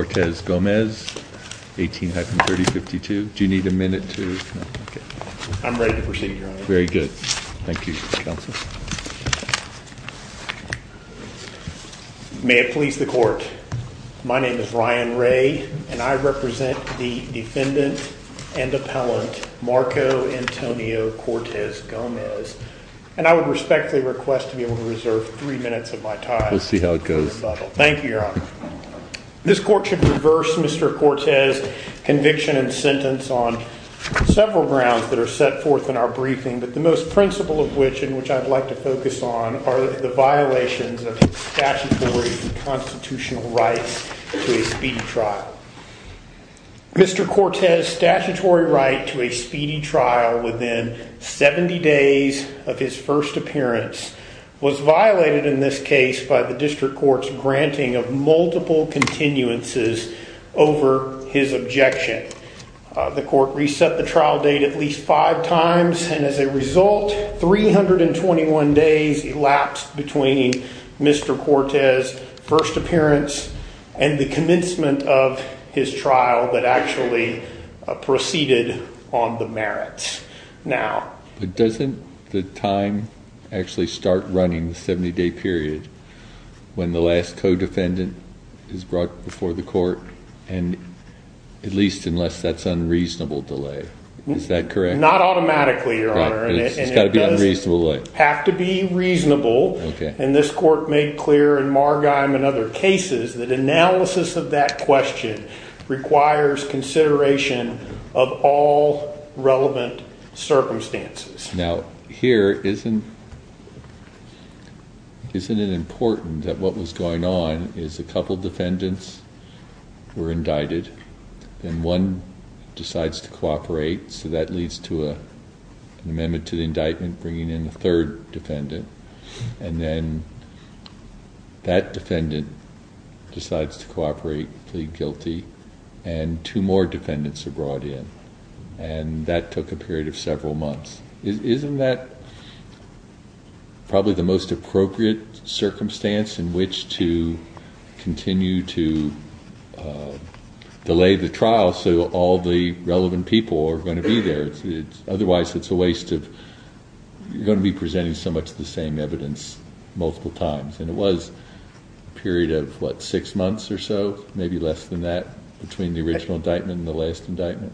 18-3052. Do you need a minute? I'm ready to proceed. Very good. Thank you, counsel. May it please the court, my name is Ryan Ray and I represent the defendant and appellant Marco Antonio Cortes-Gomez and I would respectfully request to be able to reserve three minutes of my time. We'll see how it goes. Thank you, your court should reverse Mr. Cortes' conviction and sentence on several grounds that are set forth in our briefing but the most principle of which in which I'd like to focus on are the violations of statutory and constitutional rights to a speedy trial. Mr. Cortes' statutory right to a speedy trial within 70 days of his first appearance was violated in this case by the district court's granting of multiple continuances over his objection. The court reset the trial date at least five times and as a result 321 days elapsed between Mr. Cortes' first appearance and the commencement of his trial that actually proceeded on the merits. Now doesn't the time actually start running the 70-day period when the last co-defendant is brought before the court and at least unless that's unreasonable delay, is that correct? Not automatically, your honor. It's got to be a reasonable delay. It does have to be reasonable and this court made clear in Margheim and other cases that analysis of that question requires consideration of all relevant circumstances. Now here isn't it important that what was going on is a couple defendants were indicted and one decides to cooperate so that leads to a amendment to the indictment bringing in the third defendant and then that defendant decides to cooperate, plead guilty and two more defendants are brought in and that took a period of which to continue to delay the trial so all the relevant people are going to be there. Otherwise it's a waste of, you're going to be presenting so much of the same evidence multiple times and it was a period of what six months or so maybe less than that between the original indictment and the last indictment.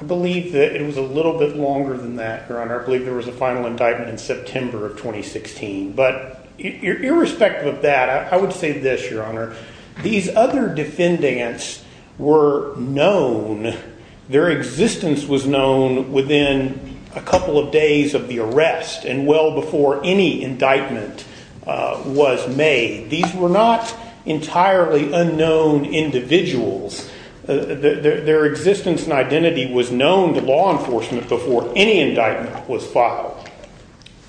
I believe that it was a little bit longer than that, your honor. I believe there was a Irrespective of that, I would say this, your honor. These other defendants were known, their existence was known within a couple of days of the arrest and well before any indictment was made. These were not entirely unknown individuals. Their existence and identity was known to law enforcement before any indictment was filed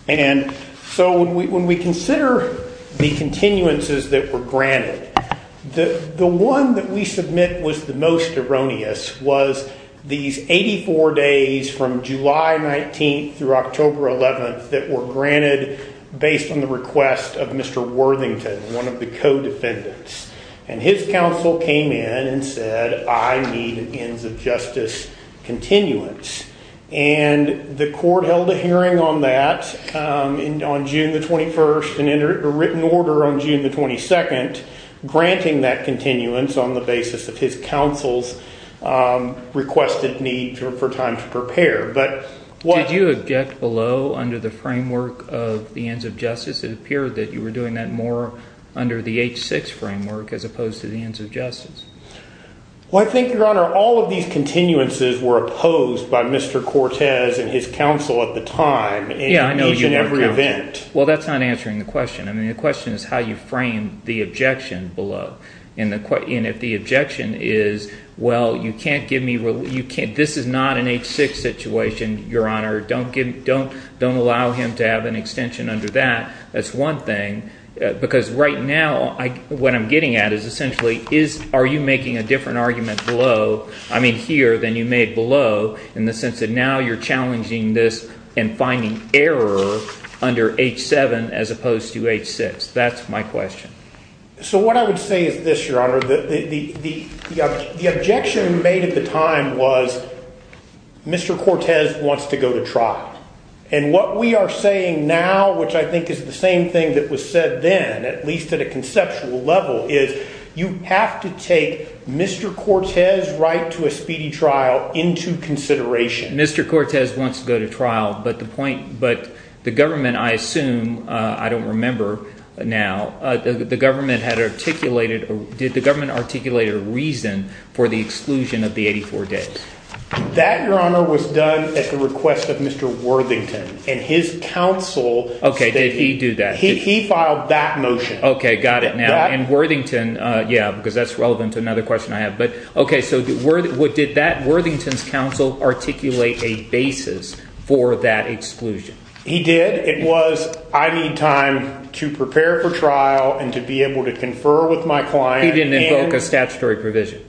and so when we consider the continuances that were granted, the one that we submit was the most erroneous was these 84 days from July 19th through October 11th that were granted based on the request of Mr. Worthington, one of the co-defendants, and his counsel came in and said I need ends of justice continuance and the court held a hearing on that on June the 21st and entered a written order on June the 22nd granting that continuance on the basis of his counsel's requested need for time to prepare. Did you object below under the framework of the ends of justice? It appeared that you were doing that more under the H-6 framework as opposed to the ends of justice. All of these continuances were opposed by Mr. Cortez and his counsel at the time in each and every event. Well that's not answering the question. I mean the question is how you frame the objection below and if the objection is well you can't give me, this is not an H-6 situation, your honor, don't allow him to have an extension under that. That's one thing because right now what I'm getting at essentially is are you making a different argument below, I mean here, than you made below in the sense that now you're challenging this and finding error under H-7 as opposed to H-6. That's my question. So what I would say is this, your honor, the objection made at the time was Mr. Cortez wants to go to trial and what we are saying now, which I think is the same thing that was said then, at least at a conceptual level, is you have to take Mr. Cortez's right to a speedy trial into consideration. Mr. Cortez wants to go to trial but the point, but the government, I assume, I don't remember now, the government had articulated, did the government articulate a reason for the exclusion of the 84 days? That, your honor, was done at the request of Mr. Worthington and his counsel. Okay, did he do that? He filed that motion. Okay, got it now. And Worthington, yeah, because that's relevant to another question I have, but okay, so did that Worthington's counsel articulate a basis for that exclusion? He did. It was I need time to prepare for trial and to be able to confer with my client. He didn't invoke a statutory provision?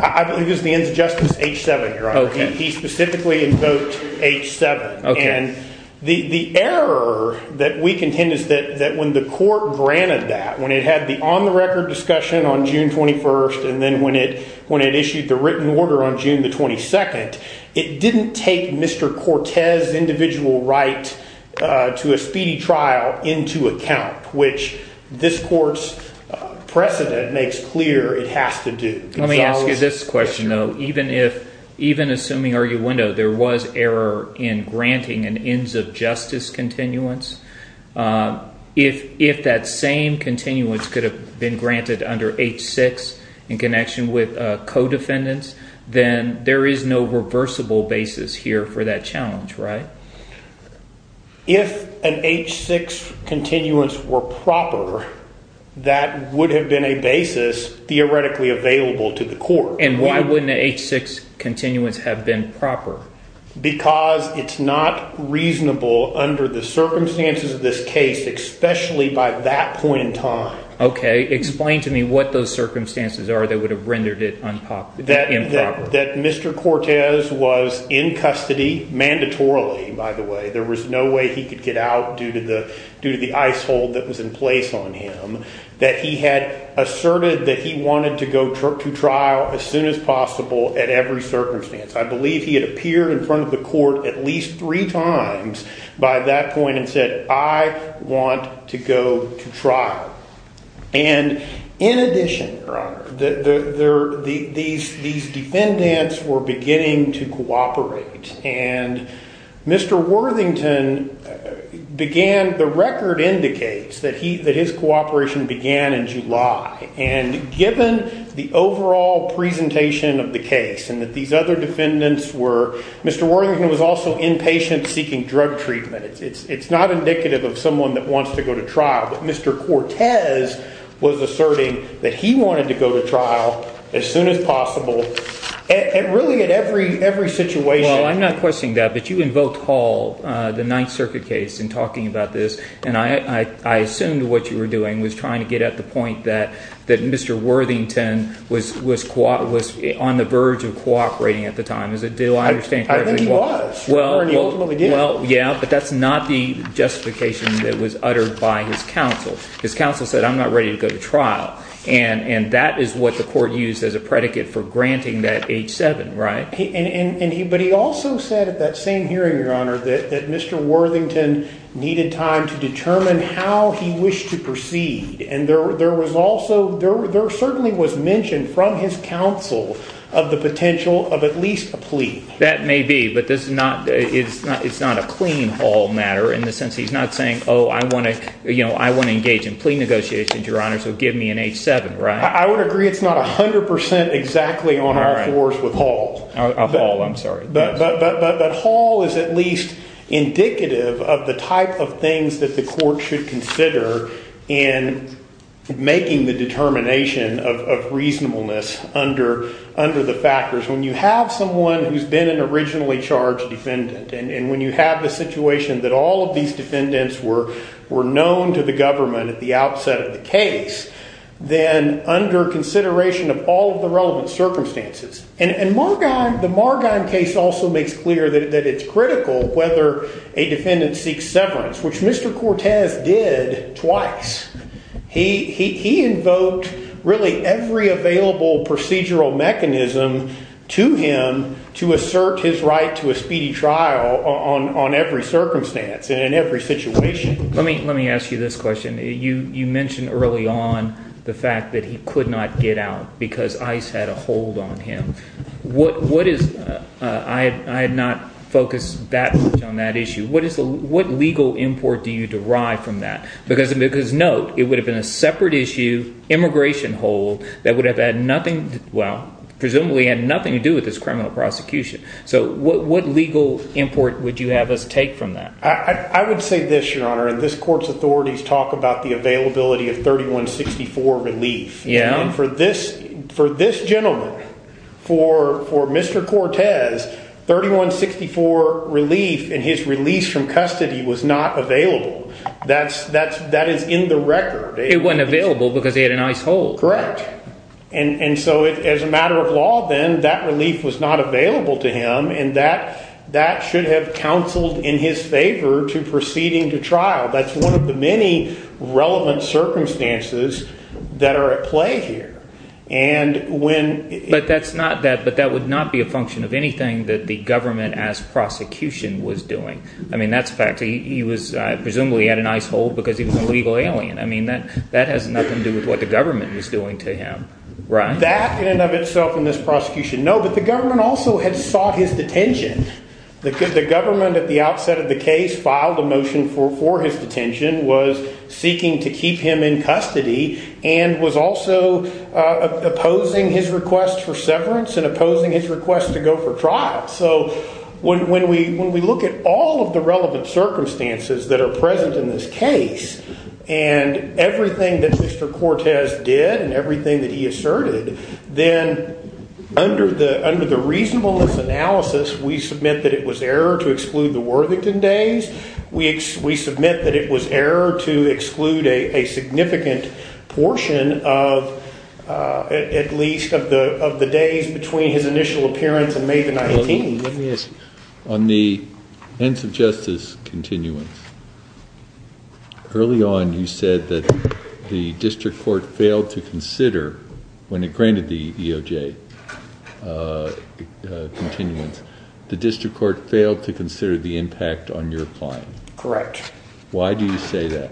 I believe it was the ends of justice H-7, your honor. He specifically invoked H-7. And the error that we contend is that when the court granted that, when it had the on-the-record discussion on June 21st and then when it when it issued the written order on June the 22nd, it didn't take Mr. Cortez's individual right to a speedy trial into account, which this court's precedent makes clear it has to do. Let me ask you this question, though. Even if, even assuming arguendo, there was error in granting an ends of justice continuance, if that same continuance could have been granted under H-6 in connection with co-defendants, then there is no reversible basis here for that challenge, right? If an H-6 continuance were proper, that would have been a basis theoretically available to the court. And why wouldn't an H-6 continuance have been proper? Because it's not reasonable under the circumstances of this case, especially by that point in time. Okay, explain to me what those circumstances are that would have rendered it improper. That Mr. Cortez was in custody, mandatorily, by the way. There was no way he could get out due to the icehold that was in place on him, that he had asserted that he wanted to go to trial as soon as possible at every circumstance. I believe he had appeared in front of the court at least three times by that point and said, I want to go to trial. And in addition, Your Honor, these defendants were that his cooperation began in July. And given the overall presentation of the case and that these other defendants were, Mr. Worthington was also inpatient seeking drug treatment. It's not indicative of someone that wants to go to trial. But Mr. Cortez was asserting that he wanted to go to trial as soon as possible and really at every situation. Well, I'm not questioning that, but you I assumed what you were doing was trying to get at the point that that Mr. Worthington was was caught was on the verge of cooperating at the time. Is it do I understand? Well, yeah, but that's not the justification that was uttered by his counsel. His counsel said, I'm not ready to go to trial. And and that is what the court used as a predicate for granting that age seven, right? But he also said at that same hearing, Your Honor, that Mr. Worthington needed time to determine how he wished to proceed. And there there was also there certainly was mentioned from his counsel of the potential of at least a plea. That may be. But this is not it's not it's not a clean all matter in the sense he's not saying, oh, I want to you know, I want to engage in plea negotiations. Your honor. So give me an age seven. Right. I would agree. It's not 100% exactly on our floors with Hall Hall. I'm sorry. But Hall is at least indicative of the type of things that the court should consider in making the determination of reasonableness under under the factors. When you have someone who's been an originally charged defendant and when you have the situation that all of these defendants were were known to the government at the outset of the case, then under consideration of all of the relevant circumstances and the Margon case also makes clear that it's critical whether a defendant seek severance, which Mr. Cortez did twice. He he he invoked really every available procedural mechanism to him to assert his right to a speedy trial on on every circumstance and in every situation. Let me let me ask you this question. You you mentioned early on the fact that he could not get out because ice had a hold on him. What? What is I had not focus that on that issue. What is what legal import do you derive from that? Because because no, it would have been a separate issue. Immigration hold that would have had nothing. Well, presumably had nothing to do with this criminal prosecution. So what what legal import would you have us take from that? I would say this, your honor, and this court's authorities talk about the availability of 3164 relief. Yeah. And for this for this gentleman, for for Mr. Cortez, 3164 relief in his release from custody was not available. That's that's that is in the record. It wasn't available because he had a nice hold. Correct. And so as a matter of law, then that relief was not available to him and that that should have counseled in his favor to proceeding to trial. That's one of the many relevant circumstances that are at play here. And when but that's not that but that would not be a function of anything that the government as prosecution was doing. I mean, that's fact. He was presumably had a nice hold because he was a legal alien. I mean, that that has nothing to do with what the government was doing to him. Right. That in and of itself in this prosecution. No, but the government also had sought his detention. The government at the outset of the case filed a detention was seeking to keep him in custody and was also opposing his request for severance and opposing his request to go for trial. So when we when we look at all of the relevant circumstances that are present in this case and everything that Mr. Cortez did and everything that he asserted, then under the under the reasonableness analysis, we submit that it was error to exclude a significant portion of at least of the of the days between his initial appearance and May the 19th. Yes, on the ends of justice continuance, early on you said that the district court failed to consider when it granted the EOJ continuance, the district court failed to consider the impact on your client. Correct. Why do you say that?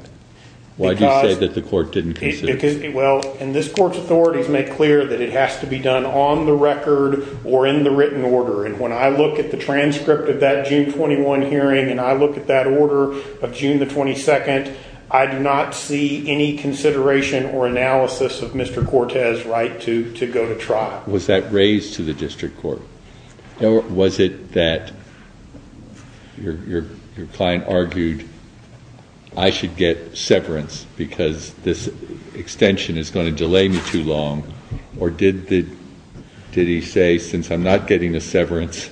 Why do you say that the court didn't consider? Well, and this court's authorities make clear that it has to be done on the record or in the written order. And when I look at the transcript of that June 21 hearing and I look at that order of June the 22nd, I do not see any consideration or analysis of Mr. Cortez right to to go to trial. Was that raised to the district court? Or was it that your client argued I should get severance because this extension is going to delay me too long? Or did he say since I'm not getting the severance,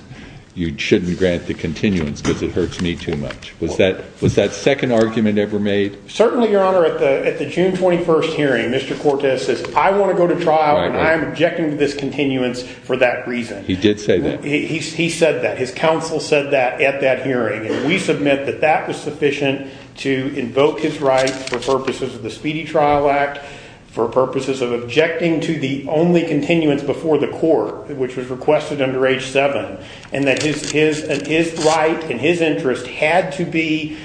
you shouldn't grant the continuance because it hurts me too much? Was that second argument ever made? Certainly, your honor, at the June 21st hearing, Mr. Cortez says I want to go to trial and I'm objecting to this continuance for that reason. He did say that. He said that. His counsel said that at that hearing. And we submit that that was sufficient to invoke his right for purposes of the Speedy Trial Act, for purposes of objecting to the only continuance before the court, which was requested under H-7, and that his right and his interest had to be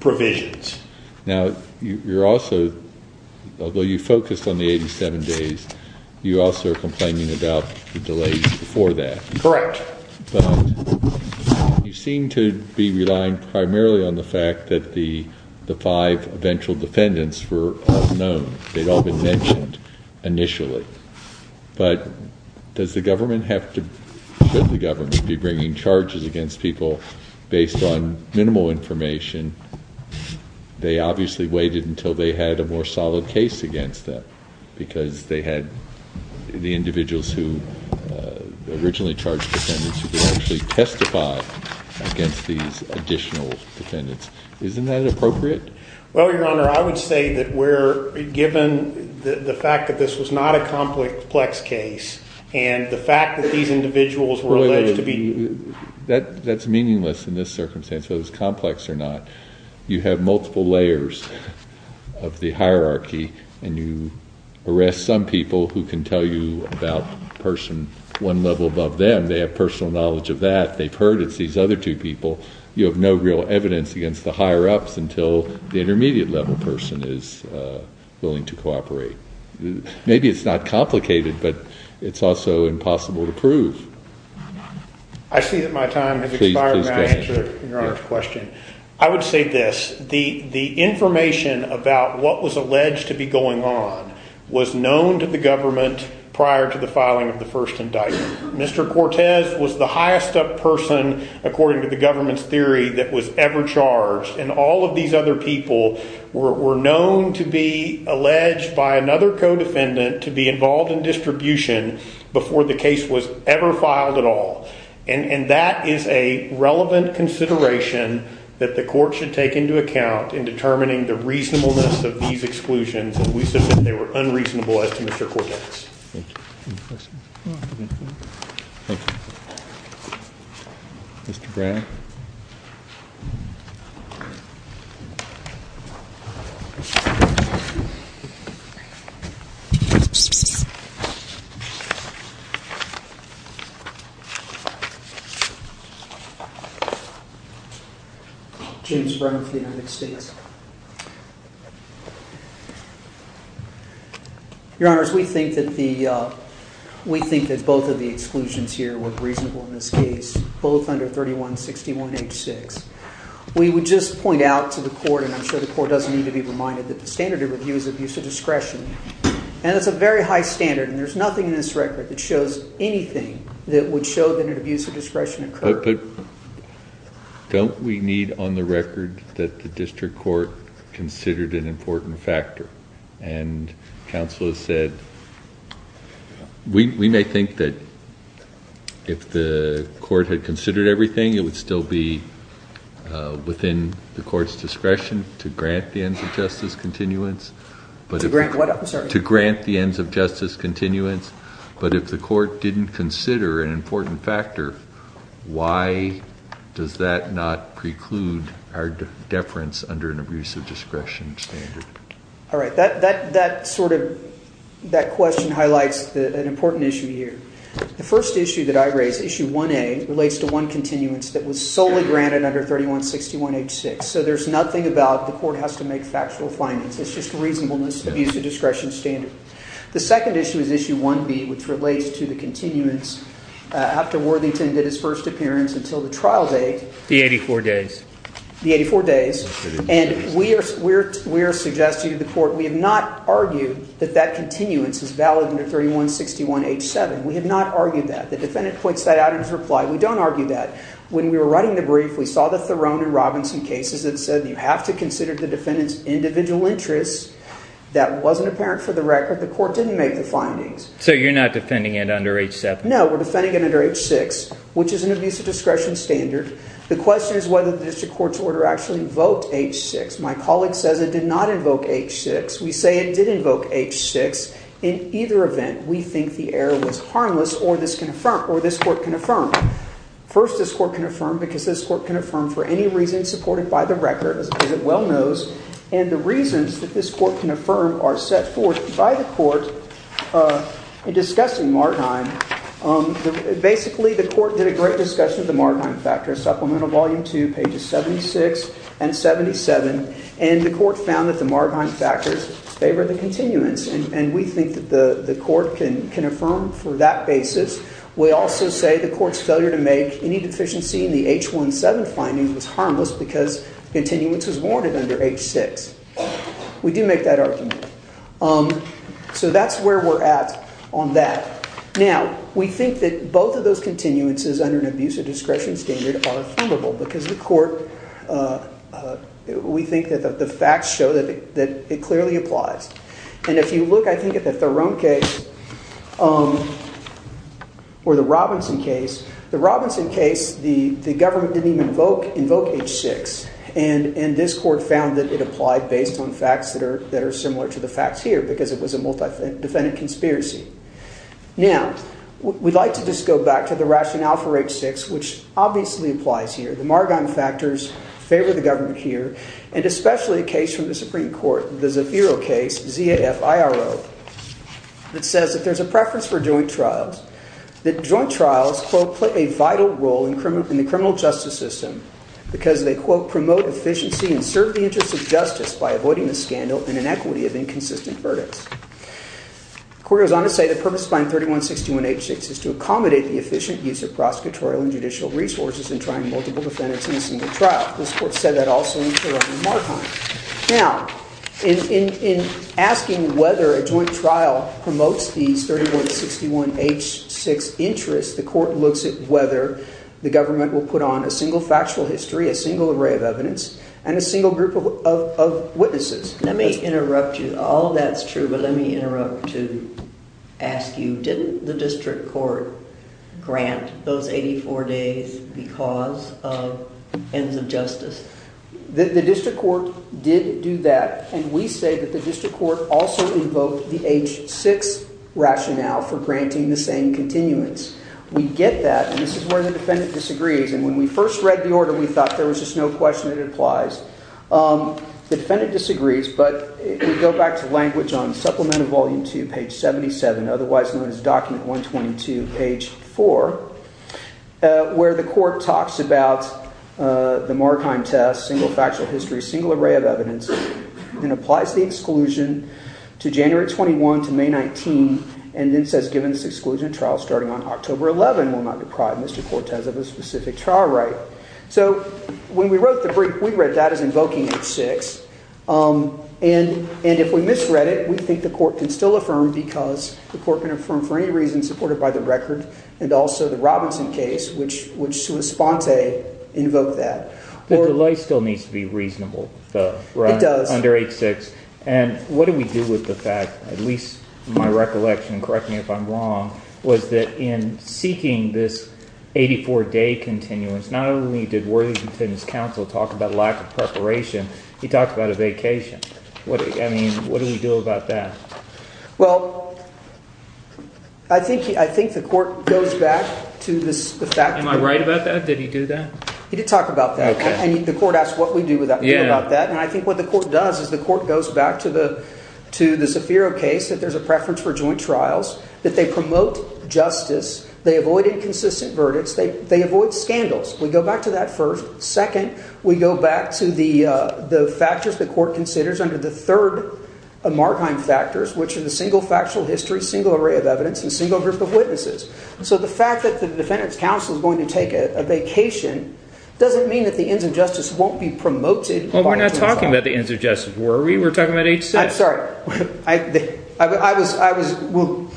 provisions. Now, you're also, although you focused on the 87 days, you also are complaining about the delays before that. Correct. You seem to be relying primarily on the fact that the the five eventual defendants were known. They'd all been mentioned initially. But does the government have to, should the they obviously waited until they had a more solid case against them because they had the individuals who originally charged defendants who could actually testify against these additional defendants? Isn't that appropriate? Well, your honor, I would say that we're given the fact that this was not a complex case and the fact that these individuals were alleged to be... That's meaningless in this circumstance, so it's complex or not. You have multiple layers of the hierarchy and you arrest some people who can tell you about a person one level above them. They have personal knowledge of that. They've heard it's these other two people. You have no real evidence against the higher-ups until the intermediate level person is willing to cooperate. Maybe it's not complicated, but it's also impossible to I would say this. The information about what was alleged to be going on was known to the government prior to the filing of the first indictment. Mr. Cortez was the highest up person, according to the government's theory, that was ever charged and all of these other people were known to be alleged by another co-defendant to be involved in distribution before the case was ever consideration that the court should take into account in determining the reasonableness of these exclusions and we said that they were unreasonable as to Mr. Cortez. James Brown of the United States. Your Honor, we think that the we think that both of the exclusions here were reasonable in this case, both under 3161 H6. We would just point out to the court, and I'm sure the court doesn't need to be reminded, that the standard of review is abuse of discretion and it's a very high standard and there's nothing in this record that shows anything that would show that an abuse of discretion occurred. But don't we need on the record that the district court considered an important factor and counsel has said we may think that if the court had considered everything it would still be within the court's discretion to grant the ends of justice continuance but to grant what I'm sorry to grant the ends of justice continuance but if the court didn't consider an important factor, why does that not preclude our deference under an abuse of discretion standard? All right, that sort of that question highlights an important issue here. The first issue that I raise, issue 1A, relates to one continuance that was solely granted under 3161 H6. So there's nothing about the court has to make factual findings. It's just reasonableness, abuse of discretion standard. The second issue is issue 1B, which relates to the continuance after Worthington did his first appearance until the trial date. The 84 days. The 84 days. And we are suggesting to the court we have not argued that that continuance is valid under 3161 H7. We have not argued that. The defendant points that out in his reply. We don't argue that. When we were writing the brief, we saw the Theron and Robinson cases that said you have to consider the defendant's individual interests. That wasn't apparent for the record. The court didn't make the findings. So you're not defending it under H7? No, we're defending it under H6, which is an abuse of discretion standard. The question is whether the district court's order actually invoked H6. My colleague says it did not invoke H6. We say it did invoke H6. In either event, we think the error was harmless or this court can affirm. First, this court can affirm because this court can affirm for any reason supported by the record, as it well knows. And the reasons that this court can affirm are set forth by the court in discussing Margheim. Basically, the court did a great discussion of the Margheim factor, Supplemental Volume 2, pages 76 and 77. And the court found that the Margheim factors favor the continuance. And we think that the court can affirm for that basis. We also say the court's failure to make any deficiency in the H17 finding was harmless because continuance was warranted under H6. We do make that argument. So that's where we're at on that. Now, we think that both of those continuances under an abuse of discretion standard are affirmable because the court, we think that the facts show that it clearly applies. And if you look, I think, at the Theron case or the Robinson case, the Robinson case, the government didn't even invoke H6. And this court found that it applied based on facts that are similar to the facts here because it was a multi-defendant conspiracy. Now, we'd like to just go back to the rationale for H6, which obviously applies here. The Margheim factors favor the government here. And especially a case from the Supreme Court, the Zafiro case, Z-A-F-I-R-O, that says that there's a preference for joint trials, that joint trials, quote, play a vital role in the criminal justice system because they, quote, promote efficiency and serve the interests of justice by avoiding the scandal and inequity of inconsistent verdicts. The court goes on to say the purpose of finding 3161 H6 is to accommodate the efficient use of prosecutorial and judicial resources in trying multiple defendants in a single trial. This court said that also in Theron and Margheim. Now, in asking whether a joint trial promotes these 3161 H6 interests, the court looks at whether the government will put on a single factual history, a single array of evidence, and a single group of witnesses. Let me interrupt you. All of that's true, but let me interrupt to ask you, didn't the district court grant those 84 days because of ends of justice? The district court did do that, and we say that the district court also invoked the H6 rationale for granting the same continuance. We get that, and this is where the defendant disagrees, and when we first read the order, we thought there was just no question that it applies. The defendant disagrees, but we go back to language on Supplement of Volume 2, page 77, otherwise known as Document 122, page 4, where the court talks about the Margheim test, single factual history, single array of evidence, and applies the exclusion to January 21 to May 19, and then says given this exclusion trial starting on October 11 will not deprive Mr. Cortez of a specific trial right. So when we wrote the brief, we read that as invoking H6, and if we misread it, we think the court can still affirm because the court can affirm for any reason supported by the record, and also the Robinson case, which to a sponte, invoked that. The delay still needs to be reasonable, though, under H6, and what do we do with the fact, at least in my recollection, correct me if I'm wrong, was that in seeking this 84-day continuance, not only did Worthington's counsel talk about lack of preparation, he talked about a vacation. What do we do about that? Well, I think the court goes back to the fact… Am I right about that? Did he do that? He did talk about that, and the court asked what we do about that, and I think what the court does is the court goes back to the Zafiro case, that there's a preference for joint trials, that they promote justice, they avoid inconsistent verdicts, they avoid scandals. We go back to that first. Second, we go back to the factors the court considers under the third Marheim factors, which are the single factual history, single array of evidence, and single group of witnesses. So the fact that the defendant's counsel is going to take a vacation doesn't mean that the ends of justice won't be promoted. Well, we're not talking about the ends of justice, were we? We're talking about H6. I'm sorry. I was…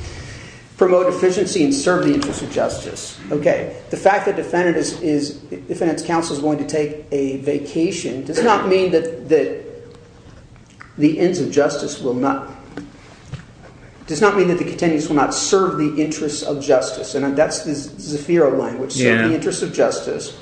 Promote efficiency and serve the interests of justice. Okay. The fact that the defendant's counsel is going to take a vacation does not mean that the ends of justice will not… And that's the Zafiro language, serve the interests of justice.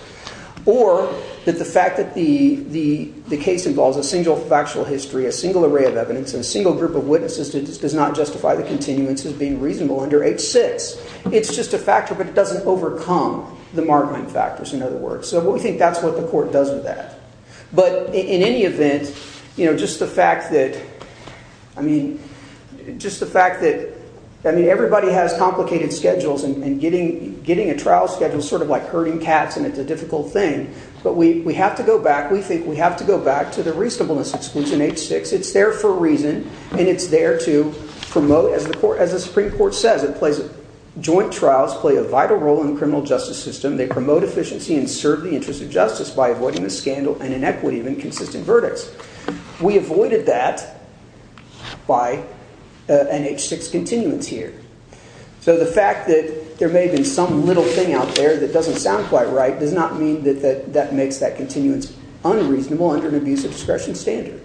Or that the fact that the case involves a single factual history, a single array of evidence, and a single group of witnesses does not justify the continuance as being reasonable under H6. It's just a factor, but it doesn't overcome the Marheim factors, in other words. So we think that's what the court does with that. But in any event, you know, just the fact that… I mean, just the fact that… I mean, everybody has complicated schedules, and getting a trial schedule is sort of like herding cats, and it's a difficult thing. But we have to go back. We think we have to go back to the reasonableness exclusion H6. It's there for a reason, and it's there to promote… by avoiding the scandal and inequity of inconsistent verdicts. We avoided that by an H6 continuance here. So the fact that there may have been some little thing out there that doesn't sound quite right does not mean that that makes that continuance unreasonable under an abuse of discretion standard.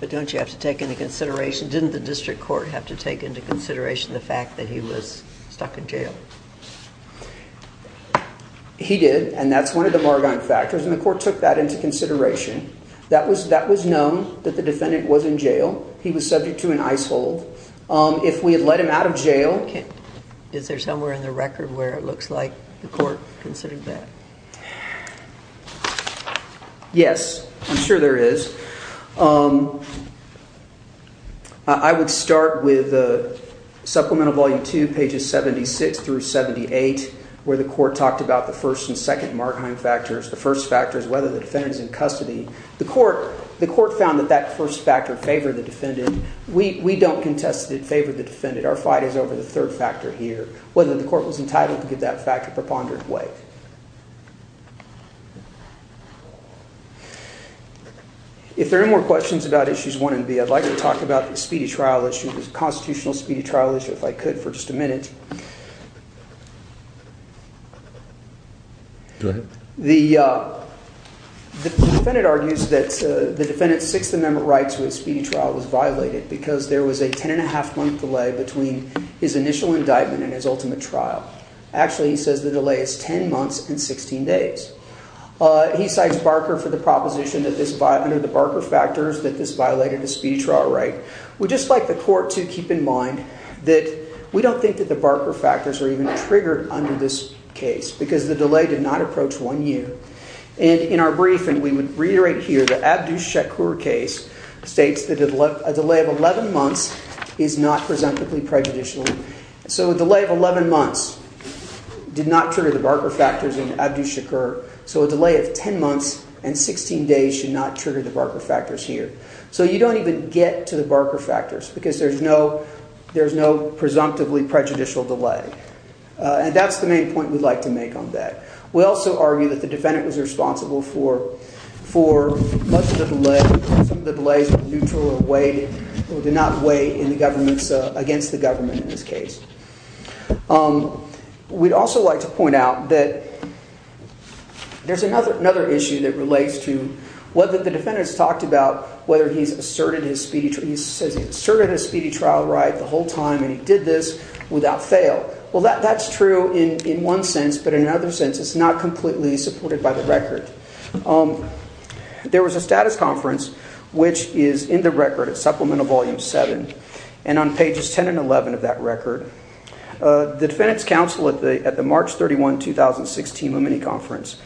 But don't you have to take into consideration… Didn't the district court have to take into consideration the fact that he was stuck in jail? He did, and that's one of the Marheim factors, and the court took that into consideration. That was known that the defendant was in jail. He was subject to an ice hold. If we had let him out of jail… Is there somewhere in the record where it looks like the court considered that? Yes, I'm sure there is. I would start with Supplemental Volume 2, pages 76 through 78, where the court talked about the first and second Marheim factors. The first factor is whether the defendant is in custody. The court found that that first factor favored the defendant. We don't contest that it favored the defendant. Our fight is over the third factor here, whether the court was entitled to give that factor preponderant weight. If there are no more questions about Issues 1 and B, I'd like to talk about the speedy trial issue, the constitutional speedy trial issue, if I could for just a minute. Go ahead. The defendant argues that the defendant's Sixth Amendment right to a speedy trial was violated because there was a ten-and-a-half-month delay between his initial indictment and his ultimate trial. Actually, he says the delay is ten months and 16 days. He cites Barker for the proposition that under the Barker factors that this violated the speedy trial right. We'd just like the court to keep in mind that we don't think that the Barker factors are even triggered under this case because the delay did not approach one year. In our brief, and we would reiterate here, the Abdu Shakur case states that a delay of 11 months is not presumptively prejudicial. So a delay of 11 months did not trigger the Barker factors in Abdu Shakur. So a delay of 10 months and 16 days should not trigger the Barker factors here. So you don't even get to the Barker factors because there's no presumptively prejudicial delay. And that's the main point we'd like to make on that. We also argue that the defendant was responsible for much of the delay. Some of the delays were neutral or did not weigh against the government in this case. We'd also like to point out that there's another issue that relates to whether the defendant's talked about whether he's asserted his speedy trial right the whole time and he did this without fail. Well, that's true in one sense, but in another sense, it's not completely supported by the record. There was a status conference, which is in the record at Supplemental Volume 7 and on pages 10 and 11 of that record. The Defendant's Counsel at the March 31, 2016 Women's Conference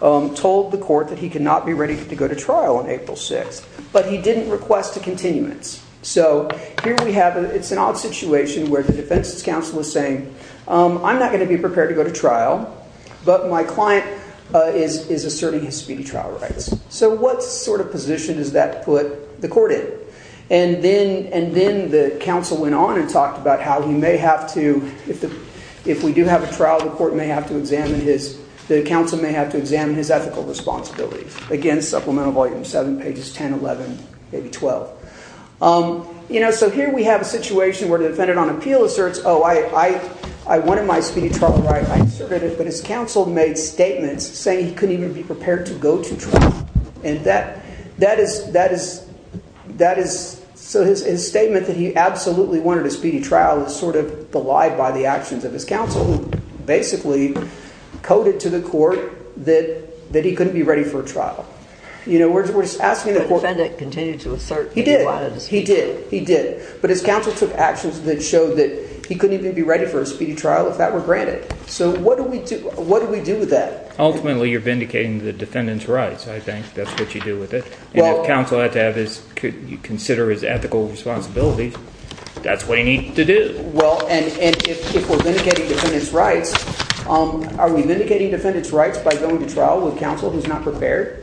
told the court that he could not be ready to go to trial on April 6th, but he didn't request a continuance. It's an odd situation where the Defendant's Counsel is saying, I'm not going to be prepared to go to trial, but my client is asserting his speedy trial rights. So what sort of position does that put the court in? And then the counsel went on and talked about how he may have to, if we do have a trial, the court may have to examine his, the counsel may have to examine his ethical responsibilities. Again, Supplemental Volume 7, pages 10, 11, maybe 12. You know, so here we have a situation where the defendant on appeal asserts, oh, I wanted my speedy trial right, I asserted it, but his counsel made statements saying he couldn't even be prepared to go to trial. And that, that is, that is, that is, so his statement that he absolutely wanted a speedy trial is sort of belied by the actions of his counsel, who basically coded to the court that he couldn't be ready for a trial. You know, we're just asking the court. The defendant continued to assert that he wanted a speedy trial. He did, he did, but his counsel took actions that showed that he couldn't even be ready for a speedy trial if that were granted. So what do we do, what do we do with that? Ultimately, you're vindicating the defendant's rights, I think. That's what you do with it. If counsel had to have his, consider his ethical responsibilities, that's what you need to do. Well, and if we're vindicating defendant's rights, are we vindicating defendant's rights by going to trial with counsel who's not prepared?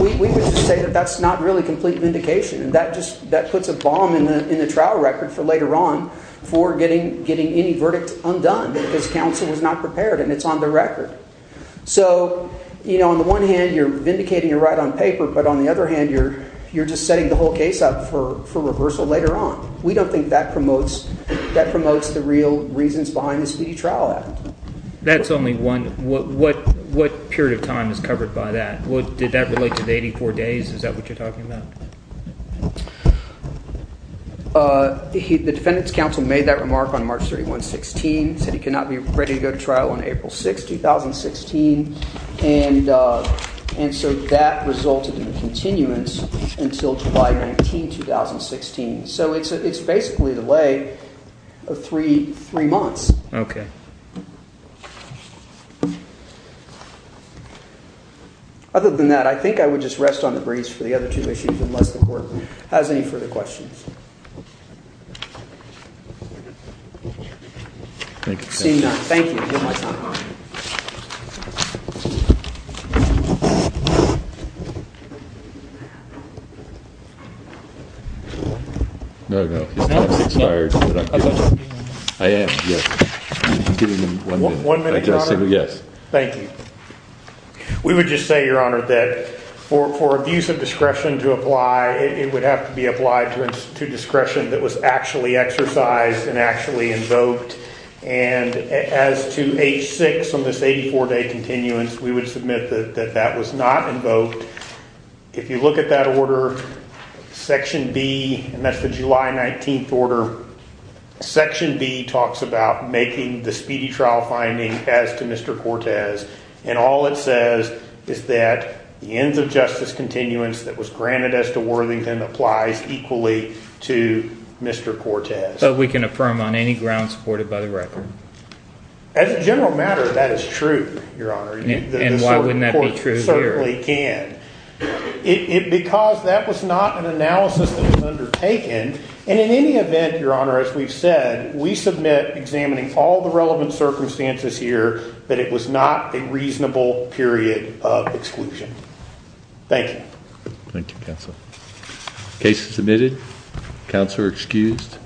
We would just say that that's not really complete vindication. And that just, that puts a bomb in the, in the trial record for later on for getting, getting any verdict undone because counsel is not prepared and it's on the record. So, you know, on the one hand you're vindicating your right on paper, but on the other hand you're, you're just setting the whole case up for, for reversal later on. We don't think that promotes, that promotes the real reasons behind the speedy trial act. That's only one. What, what, what period of time is covered by that? Did that relate to the 84 days? Is that what you're talking about? The defendant's counsel made that remark on March 31, 16, said he could not be ready to go to trial on April 6, 2016. And, and so that resulted in the continuance until July 19, 2016. So it's, it's basically the way of three, three months. Okay. Other than that, I think I would just rest on the breeze for the other two issues, unless the court has any further questions. Thank you. Thank you. I am. One minute. Yes. Thank you. We would just say, Your Honor, that for, for abuse of discretion to apply, it would have to be applied to, to discretion that was actually exercised and actually invoked. And as to H6 on this 84 day continuance, we would submit that, that that was not invoked. If you look at that order, section B, and that's the July 19th order, section B talks about making the speedy trial finding as to Mr. Cortez. And all it says is that the ends of justice continuance that was granted as to Worthington applies equally to Mr. Cortez. So we can affirm on any ground supported by the record. As a general matter, that is true, Your Honor. And why wouldn't that be true here? It certainly can. It, it, because that was not an analysis that was undertaken. And in any event, Your Honor, as we've said, we submit examining all the relevant circumstances here that it was not a reasonable period of exclusion. Thank you. Thank you, Counsel. Case submitted. Counselor excused.